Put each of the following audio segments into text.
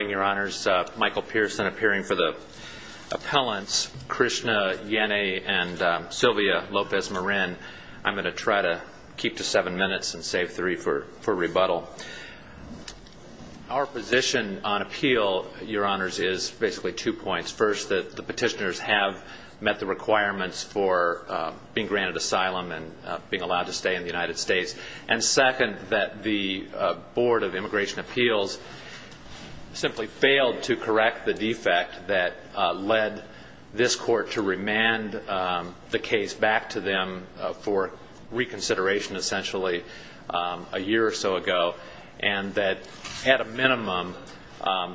Your Honors, Michael Pearson appearing for the appellants, Krishna Yenne and Sylvia Lopez-Marin. I'm going to try to keep to seven minutes and save three for rebuttal. Our position on appeal, Your Honors, is basically two points. First, that the petitioners have met the requirements for being granted asylum and being allowed to stay in the United States. And second, that the Board of Immigration Appeals simply failed to correct the defect that led this Court to remand the case back to them for reconsideration, essentially, a year or so ago. And that, at a minimum,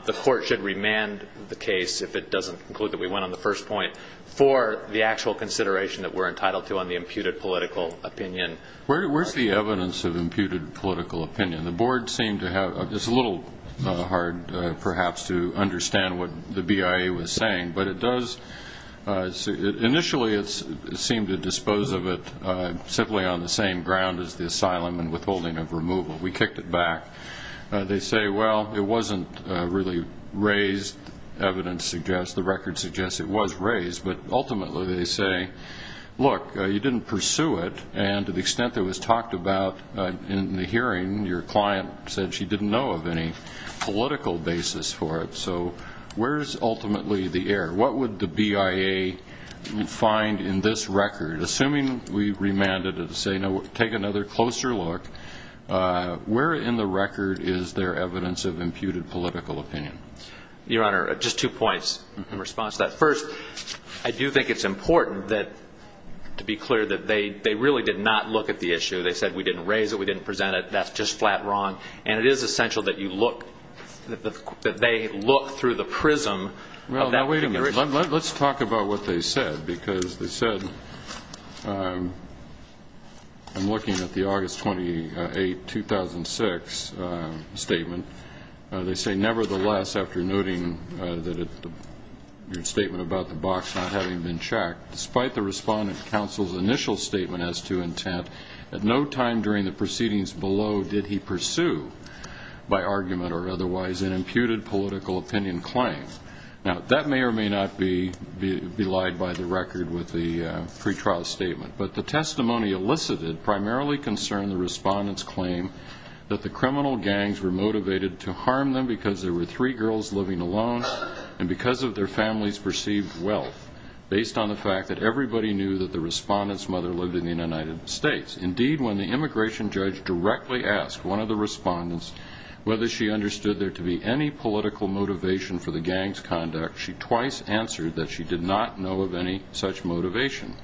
the Court should remand the case, if it doesn't conclude that we went on the first point, for the actual consideration that we're entitled to on the imputed political opinion. Where's the evidence of imputed political opinion? The Board seemed to have, it's a little hard, perhaps, to understand what the BIA was saying, but it does, initially, it seemed to dispose of it simply on the same ground as the asylum and withholding of removal. We kicked it back. They say, well, it wasn't really raised, evidence suggests, the record suggests it was raised. But ultimately, they say, look, you didn't pursue it, and to the extent that it was talked about in the hearing, your client said she didn't know of any political basis for it. So where's, ultimately, the error? What would the BIA find in this record? Assuming we remanded it to say, no, take another closer look, where in the record is there evidence of imputed political opinion? Your Honor, just two points in response to that. First, I do think it's important that, to be clear, that they really did not look at the issue. They said, we didn't raise it, we didn't present it, that's just flat wrong. And it is essential that you look, that they look through the prism of that. Well, now, wait a minute. Let's talk about what they said, because they said, I'm looking at the August 28, 2006 statement. They say, nevertheless, after noting that your statement about the box not having been checked, despite the Respondent Counsel's initial statement as to intent, at no time during the proceedings below did he pursue, by argument or otherwise, an imputed political opinion claim. Now, that may or may not be belied by the record with the pretrial statement, but the testimony elicited primarily concerned the Respondent's claim that the criminal gangs were motivated to harm them because there were three girls living alone and because of their families' perceived wealth, based on the fact that everybody knew that the Respondent's mother lived in the United States. Indeed, when the immigration judge directly asked one of the Respondents whether she understood there to be any political motivation for the gangs' conduct, she twice answered that she did not know of any such motivation.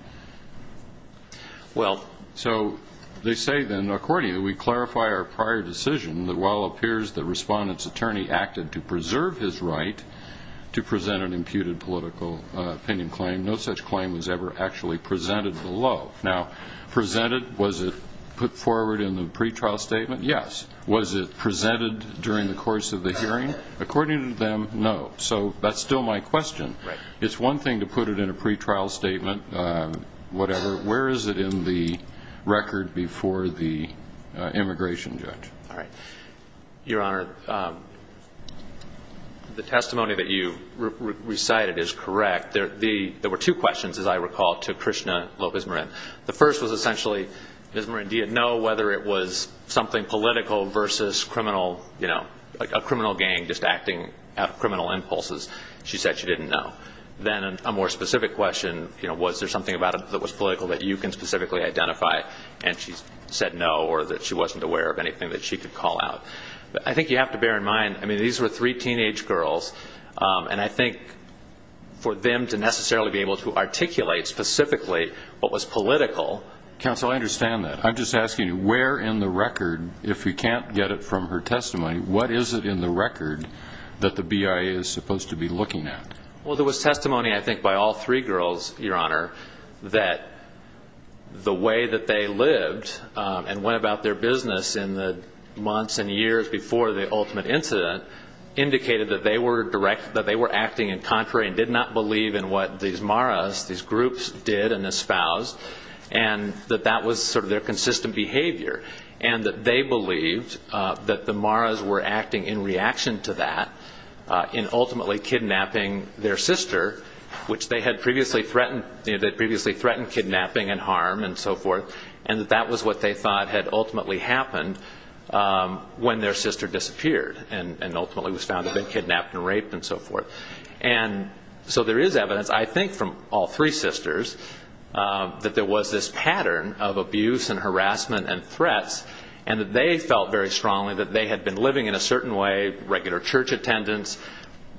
Well, so, they say then, according to you, we clarify our prior decision that while it appears the Respondent's attorney acted to preserve his right to present an imputed political opinion claim, no such claim was ever actually presented below. Now, presented, was it put forward in the pretrial statement? Yes. Was it presented during the course of the hearing? According to them, no. So, that's still my question. It's one thing to put it in a pretrial statement, whatever. Where is it in the record before the immigration judge? Your Honor, the testimony that you recited is correct. There were two questions, as I recall, to Krishna Lopez-Marin. The first was essentially, Lopez-Marin, do you know whether it was something political versus criminal, you know, a criminal gang just acting out of criminal impulses? She said she didn't know. Then, a more specific question, you know, was there something about it that was political that you can specifically identify? And she said no, or that she wasn't aware of anything that she could call out. I think you have to bear in mind, I mean, these were three teenage girls, and I think for them to necessarily be able to articulate specifically what was political... Where in the record, if we can't get it from her testimony, what is it in the record that the BIA is supposed to be looking at? Well, there was testimony, I think, by all three girls, Your Honor, that the way that they lived and went about their business in the months and years before the ultimate incident indicated that they were acting in contrary and did not believe in what these Maras, these groups, did and espoused, and that that was sort of their consistent behavior, and that they believed that the Maras were acting in reaction to that, in ultimately kidnapping their sister, which they had previously threatened, you know, they had previously threatened kidnapping and harm and so forth, and that that was what they thought had ultimately happened when their sister disappeared and ultimately was found to have been kidnapped and raped and so forth. And so there is evidence, I think, from all three sisters that there was this pattern of abuse and harassment and threats, and that they felt very strongly that they had been living in a certain way, regular church attendance,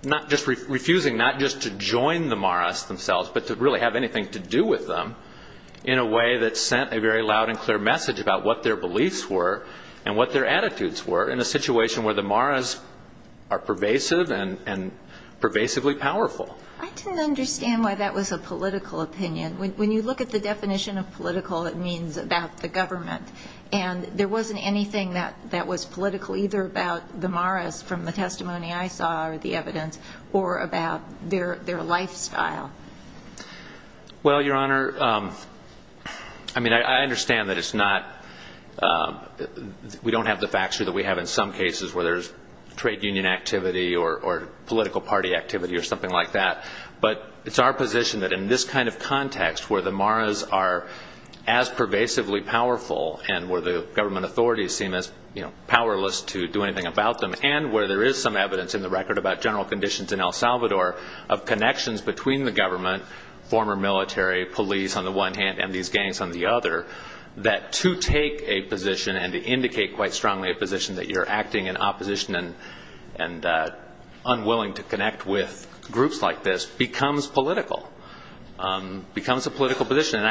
not just refusing, not just to join the Maras themselves, but to really have anything to do with them, in a way that sent a very loud and clear message about what their beliefs were and what their attitudes were in a situation where the Maras are pervasive and pervasively powerful. I didn't understand why that was a political opinion. When you look at the definition of what it means about the government, and there wasn't anything that was political either about the Maras from the testimony I saw or the evidence or about their lifestyle. Well, Your Honor, I mean, I understand that it's not, we don't have the facts here that we have in some cases where there's trade union activity or political party activity or something like that, but it's our position that in this kind of context where the Maras are as pervasively powerful and where the government authorities seem as powerless to do anything about them, and where there is some evidence in the record about general conditions in El Salvador of connections between the government, former military, police on the one hand, and these gangs on the other, that to take a position and to indicate quite strongly a position that you're acting in opposition and unwilling to connect with groups like this becomes political, becomes a political position, and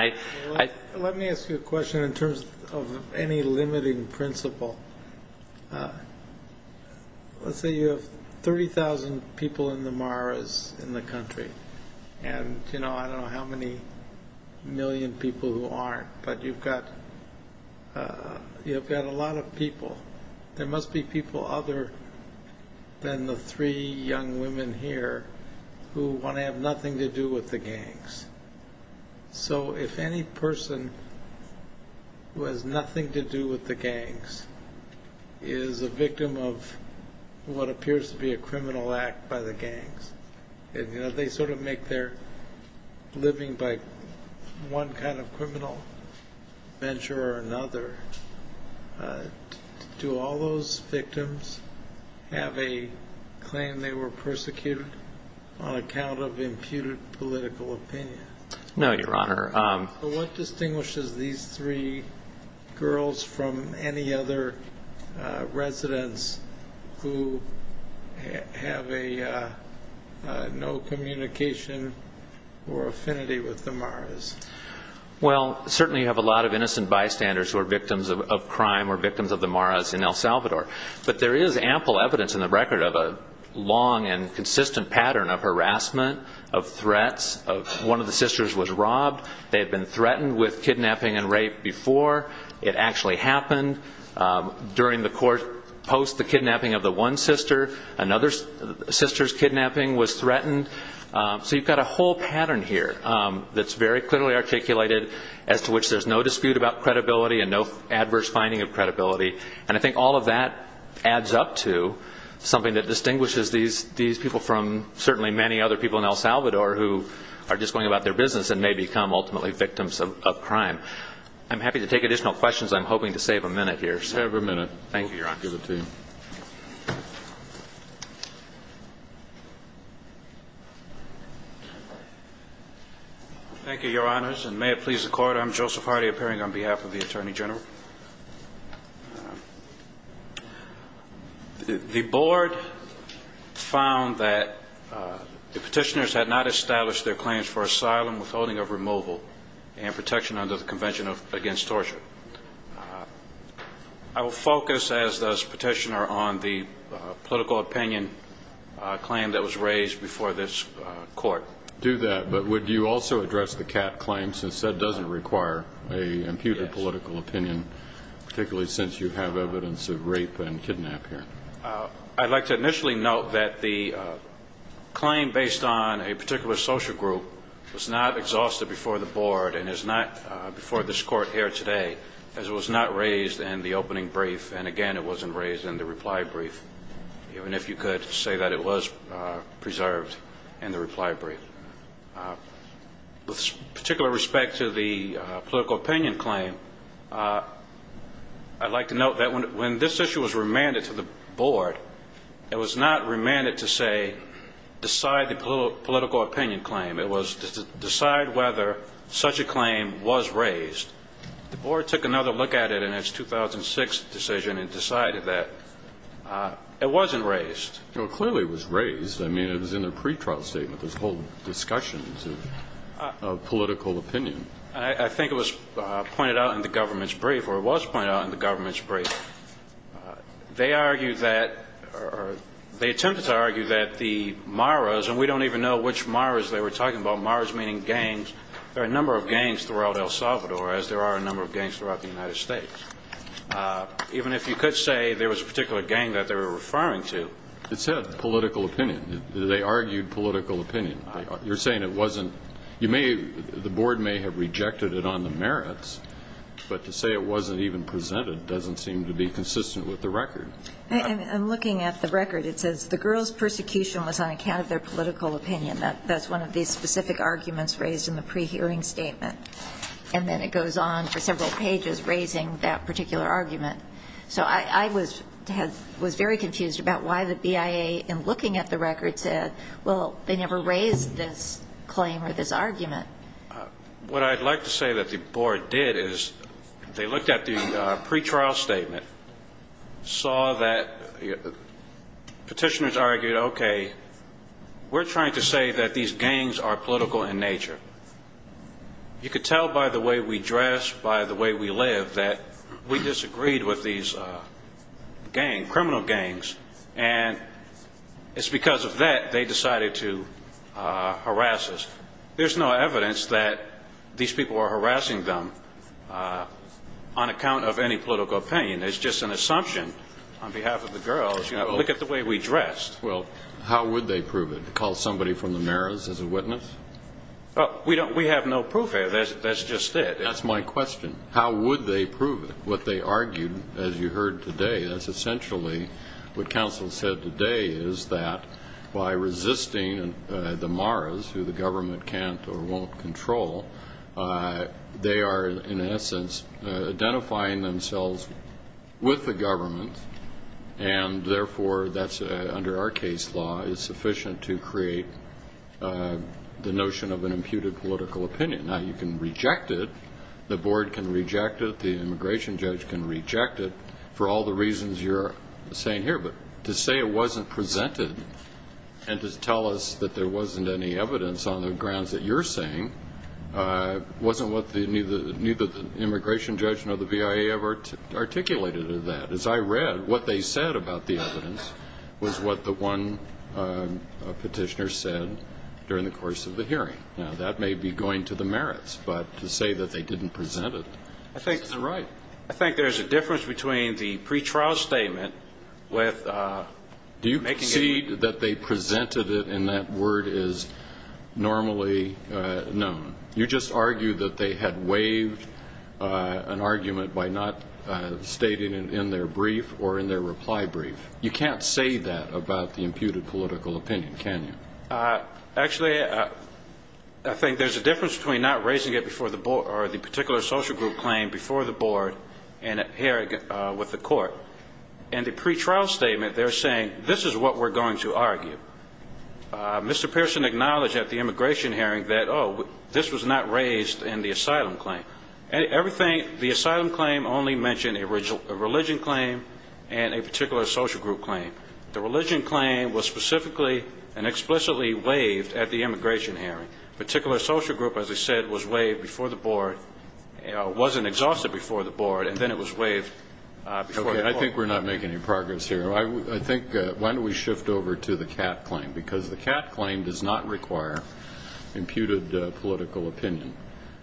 I... Let me ask you a question in terms of any limiting principle. Let's say you have 30,000 people in the Maras in the country, and I don't know how many million people who aren't, but you've got a lot of people. There must be people other than the three young women here who want to have nothing to do with the gangs. So if any person who has nothing to do with the gangs is a victim of what appears to be a criminal act by the gangs, and they sort of make their living by one kind of criminal venture or another, do all those victims have a claim they were persecuted on account of imputed political opinion? No, Your Honor. What distinguishes these three girls from any other residents who have no communication or affinity with the Maras? Well, certainly you have a lot of innocent bystanders who are victims of crime or victims of the Maras in El Salvador, but there is ample evidence in the record of a long and consistent pattern of harassment, of threats. One of the sisters was robbed. They had been threatened with kidnapping and rape before it actually happened. During the court, post the kidnapping of the one sister, another sister's kidnapping was threatened. So you've got a whole pattern here that's very clearly articulated as to which there's no dispute about credibility and no adverse finding of credibility. And I think all of that adds up to something that distinguishes these people from certainly many other people in El Salvador who are just going about their business and may become ultimately victims of crime. I'm happy to take additional questions. I'm hoping to save a minute here. Save a minute. Thank you, Your Honor. We'll give it to you. Thank you, Your Honors. And may it please the Court, I'm Joseph Hardy, appearing on behalf of the Attorney General. The Board found that the petitioners had not established their claims for asylum, withholding of removal, and protection under the Convention Against Political Opinion, a claim that was raised before this Court. Do that, but would you also address the Catt claim, since that doesn't require an imputed political opinion, particularly since you have evidence of rape and kidnap here? I'd like to initially note that the claim based on a particular social group was not exhausted before the Board and is not before this Court here today, as it was not raised in the opening brief, and again, it wasn't raised in the reply brief, even if you could say that it was preserved in the reply brief. With particular respect to the political opinion claim, I'd like to note that when this issue was remanded to the Board, it was not remanded to, say, decide the political opinion claim. It was to decide whether such a claim was raised. The Board took another look at it in its 2006 decision and decided that it wasn't raised. Well, clearly it was raised. I mean, it was in the pretrial statement, this whole discussion of political opinion. I think it was pointed out in the government's brief, or it was pointed out in the government's brief. They argued that, or they attempted to argue that the Maras, and we don't even know which Maras they were talking about, Maras meaning gangs, there are a number of gangs throughout the United States. Even if you could say there was a particular gang that they were referring to. It said political opinion. They argued political opinion. You're saying it wasn't, you may, the Board may have rejected it on the merits, but to say it wasn't even presented doesn't seem to be consistent with the record. I'm looking at the record. It says the girls' persecution was on account of their political opinion. That's one of the specific arguments raised in the pre-hearing statement. And then it goes on for several pages raising that particular argument. So I was very confused about why the BIA in looking at the record said, well, they never raised this claim or this argument. What I'd like to say that the Board did is they looked at the pretrial statement, saw that petitioners argued, okay, we're trying to say that these gangs are political in nature. You could tell by the way we dress, by the way we live that we disagreed with these gangs, criminal gangs, and it's because of that they decided to harass us. There's no evidence that these people are harassing them on account of any political opinion. It's just an assumption on behalf of the girls. You know, look at the way we dress. Well, how would they prove it? Call somebody from the Maras as a witness? Well, we have no proof here. That's just it. That's my question. How would they prove it? What they argued, as you heard today, that's essentially what counsel said today is that by resisting the Maras, who the government can't or won't control, they are, in essence, identifying themselves with the government and therefore that's, under our case law, is sufficient to create the notion of an imputed political opinion. Now, you can reject it. The Board can reject it. The immigration judge can reject it for all the reasons you're saying here, but to say it wasn't presented and to tell us that there wasn't any evidence on the grounds that you're saying wasn't what neither the immigration judge nor the BIA have articulated is that, as I read, what they said about the evidence was what the one petitioner said during the course of the hearing. Now, that may be going to the Maras, but to say that they didn't present it isn't right. I think there's a difference between the pre-trial statement with making it... Do you concede that they presented it and that word is normally known? You just argued that they had waived an argument by not stating it in their brief or in their reply brief. You can't say that about the imputed political opinion, can you? Actually, I think there's a difference between not raising it before the Board or the particular social group claim before the Board and at hearing with the court. In the pre-trial statement, they're saying, this is what we're going to argue. Mr. Pearson acknowledged at the immigration hearing that, oh, this was not raised in the asylum claim. Everything, the asylum claim only mentioned a religion claim and a particular social group claim. The religion claim was specifically and explicitly waived at the immigration hearing. Particular social group, as I said, was waived before the Board, wasn't exhausted before the Board, and then it was waived before the court. I think we're not making any progress here. I think, why don't we shift over to the CAT claim does not require imputed political opinion.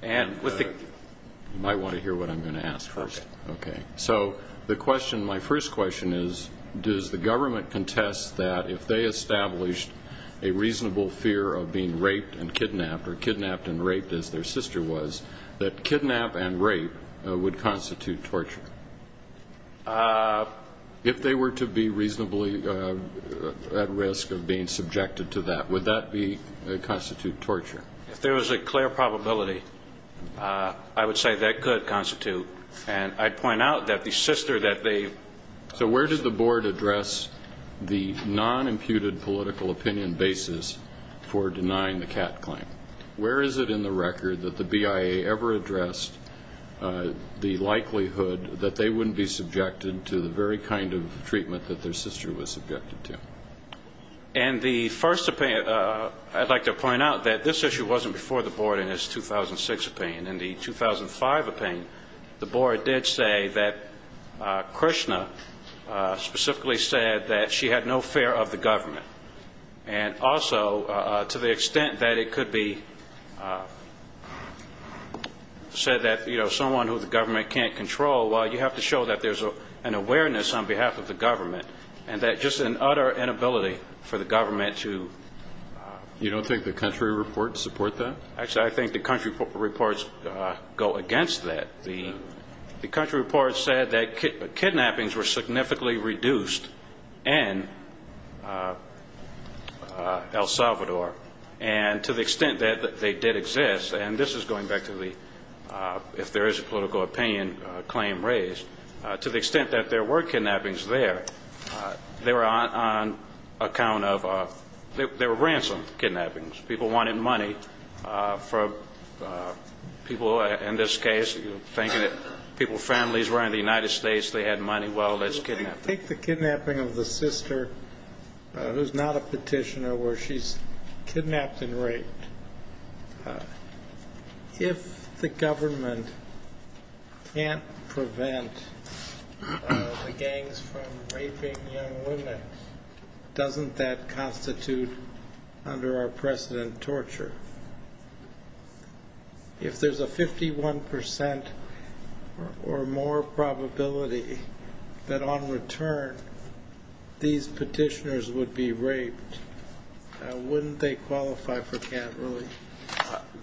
You might want to hear what I'm going to ask first. So the question, my first question is, does the government contest that if they established a reasonable fear of being raped and kidnapped, or kidnapped and raped as their sister was, that kidnap and rape would constitute torture? If they were to be reasonably at risk of being subjected to that, would that constitute torture? If there was a clear probability, I would say that could constitute. And I'd point out that the sister that they So where does the Board address the non-imputed political opinion basis for denying the CAT claim? Where is it in the record that the BIA ever addressed the likelihood that they wouldn't be subjected to the very kind of treatment that their sister was subjected to? And the first opinion, I'd like to point out that this issue wasn't before the Board in its 2006 opinion. In the 2005 opinion, the Board did say that Krishna specifically said that she had no fear of the government. And also, to the extent that it could be said that someone who the government can't control, well, you have to show that there's an awareness on behalf of the government, and that just an utter inability for the government to You don't think the country reports support that? Actually, I think the country reports go against that. The country reports said that kidnappings were significantly reduced in El Salvador. And to the extent that they did exist, and this is going back to the, if there is a political opinion claim raised, to the extent that there were kidnappings there, they were on account of, they were ransom kidnappings. People wanted money from people, in this case, thinking that people's families were in the United States, they had money, well, let's kidnap them. I think the kidnapping of the sister, who's not a petitioner, where she's kidnapped and raped, if the government can't prevent the gangs from raping young women, doesn't that constitute, under our precedent, torture? If there's a 51 percent or more probability that, on return, these petitioners would be raped, wouldn't they qualify for cat relief?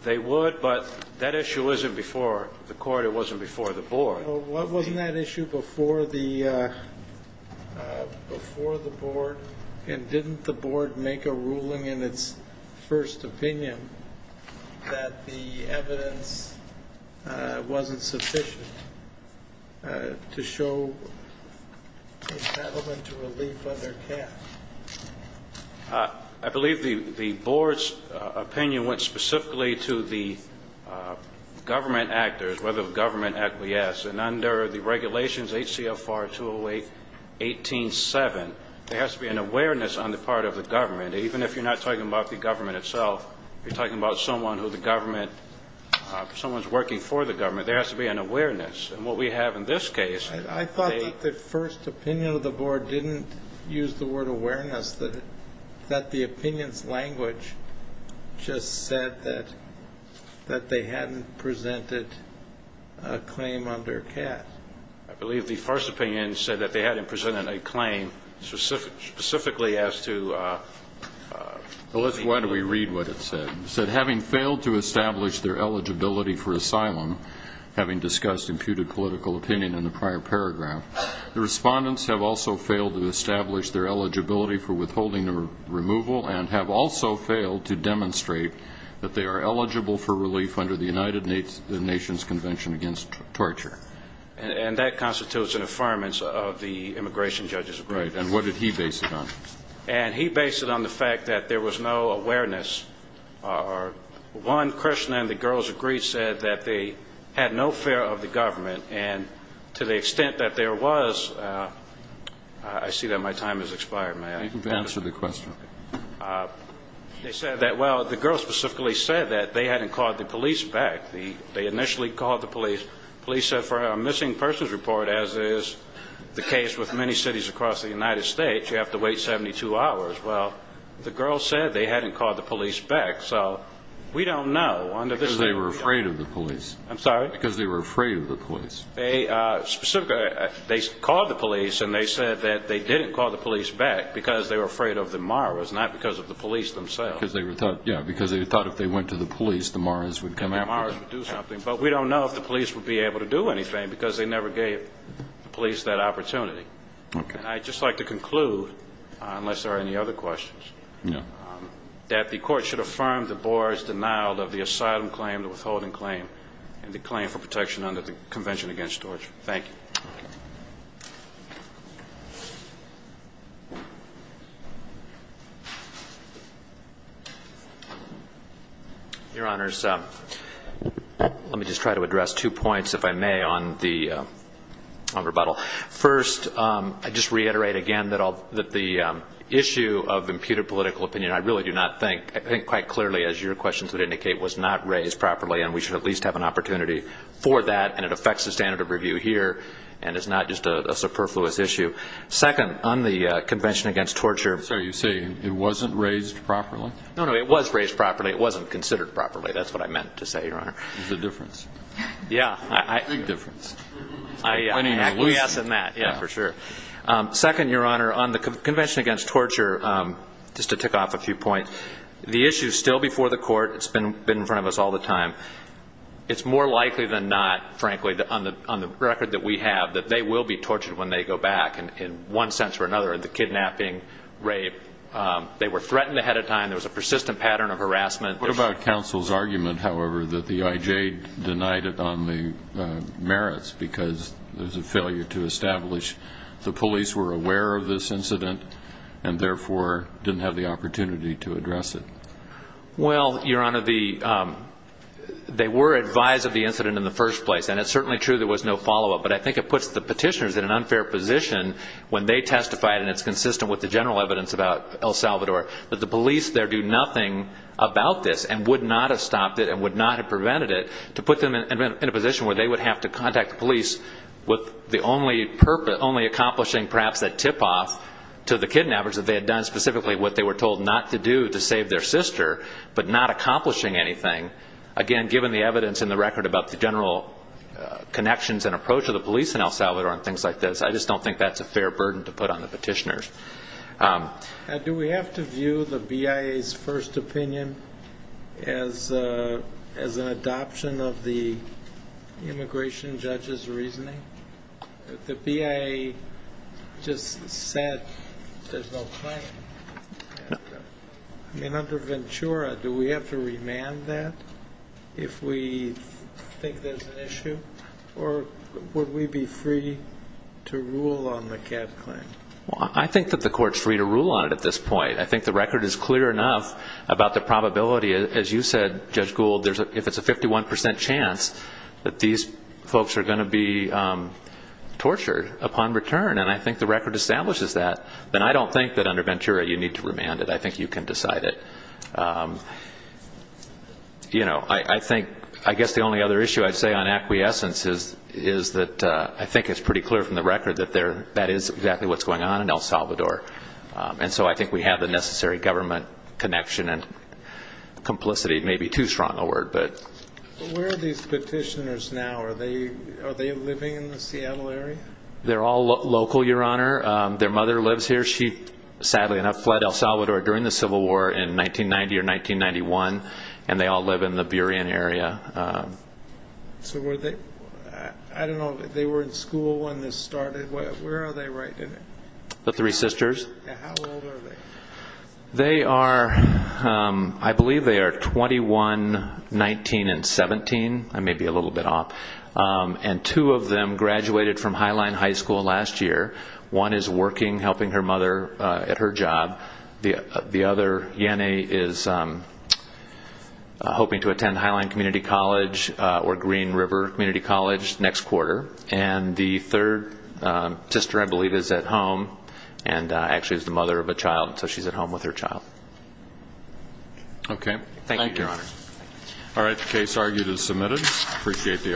They would, but that issue isn't before the court, it wasn't before the board. Well, wasn't that issue before the board? And didn't the board make a ruling in its first opinion that the evidence wasn't sufficient to show that there were kidnappings? I believe the board's opinion went specifically to the government actors, whether the government act, yes, and under the regulations, H.C.L. 4-208-18-7, there has to be an awareness on the part of the government, even if you're not talking about the government itself, you're talking about someone who the government, someone's working for the government, there we have, in this case, I thought that the first opinion of the board didn't use the word awareness, that the opinion's language just said that they hadn't presented a claim under CAT. I believe the first opinion said that they hadn't presented a claim specifically as to... Well, why don't we read what it said? It said, having failed to establish their eligibility for asylum, having discussed imputed political opinion in the prior paragraph, the respondents have also failed to establish their eligibility for withholding or removal and have also failed to demonstrate that they are eligible for relief under the United Nations Convention Against Torture. And that constitutes an affirmance of the immigration judge's agreement. Right, and what did he base it on? And he based it on the fact that there was no awareness, or one person and the girls agreed said that they had no fear of the government and to the extent that there was, I see that my time has expired, may I? You can answer the question. They said that, well, the girls specifically said that they hadn't called the police back. They initially called the police. Police said for a missing persons report, as is the case with many cities across the United States, you have to wait 72 hours. Well, the girls said they hadn't called the police back, so we don't know under this... Because they were afraid of the police. I'm sorry? Because they were afraid of the police. They called the police and they said that they didn't call the police back because they were afraid of the Maras, not because of the police themselves. Because they thought, yeah, because they thought if they went to the police, the Maras would come after them. The Maras would do something, but we don't know if the police would be able to do anything because they never gave the police that opportunity. I'd just like to conclude, unless there are any other questions, that the court should affirm that Boar is denied of the asylum claim, the withholding claim, and the claim for protection under the Convention Against Torture. Thank you. Your Honors, let me just try to address two points, if I may, on the rebuttal. First, I'd just reiterate again that the issue of imputed political opinion, I really do not think, I think quite clearly, as your questions would indicate, was not raised properly, and we should at least have an opportunity for that, and it affects the standard of review here, and it's not just a superfluous issue. Second, on the Convention Against Torture... I'm sorry, you say it wasn't raised properly? No, no, it was raised properly. It wasn't considered properly. That's what I meant to say, Your Honor. There's a difference. Yeah, I... For sure. Second, Your Honor, on the Convention Against Torture, just to tick off a few points, the issue is still before the court. It's been in front of us all the time. It's more likely than not, frankly, on the record that we have, that they will be tortured when they go back, in one sense or another, the kidnapping, rape. They were threatened ahead of time. There was a persistent pattern of harassment. What about counsel's argument, however, that the IJ denied it on the merits, because there's a failure to establish the police were aware of this incident, and therefore didn't have the opportunity to address it? Well, Your Honor, they were advised of the incident in the first place, and it's certainly true there was no follow-up, but I think it puts the petitioners in an unfair position when they testify, and it's consistent with the general evidence about El Salvador, that the police there do nothing about this, and would not have stopped it, and would not have prevented it, to put them in a position where they would have to contact the police with the only purpose, only accomplishing, perhaps, that tip-off to the kidnappers that they had done specifically what they were told not to do to save their sister, but not accomplishing anything. Again, given the evidence in the record about the general connections and approach of the police in El Salvador and things like this, I just don't think that's a fair burden to put on the petitioners. Do we have to view the BIA's first opinion as an adoption of the immigration judge's reasoning? The BIA just said there's no claim. I mean, under Ventura, do we have to remand that if we think there's an issue, or would we be free to rule on the cab claim? Well, I think that the court's free to rule on it at this point. I think the record is clear enough about the probability. As you said, Judge Gould, if it's a 51 percent chance that these folks are going to be tortured upon return, and I think the record establishes that, then I don't think that under Ventura you need to remand it. I think you can decide it. I guess the only other issue I'd say on acquiescence is that I think it's pretty clear from the record that that is exactly what's going on in El Salvador, and so I think we have the necessary government connection and complicity. It may be too strong a word. But where are these petitioners now? Are they living in the Seattle area? They're all local, Your Honor. Their mother lives here. She, sadly enough, fled El Salvador during the Civil War in 1990 or 1991, and they all live in the Burien area. So were they, I don't know, they were in school when this started? Where are they right now? The three sisters. And how old are they? They are, I believe they are 21, 19, and 17. I may be a little bit off. And two of them graduated from Highline High School last year. One is working, helping her mother at her job. The other, is hoping to attend Highline Community College or Green River Community College next quarter. And the third sister, I believe, is at home and actually is the mother of a child, so she's at home with her child. Okay. Thank you, Your Honor. All right. The case argued is submitted. Appreciate the argument.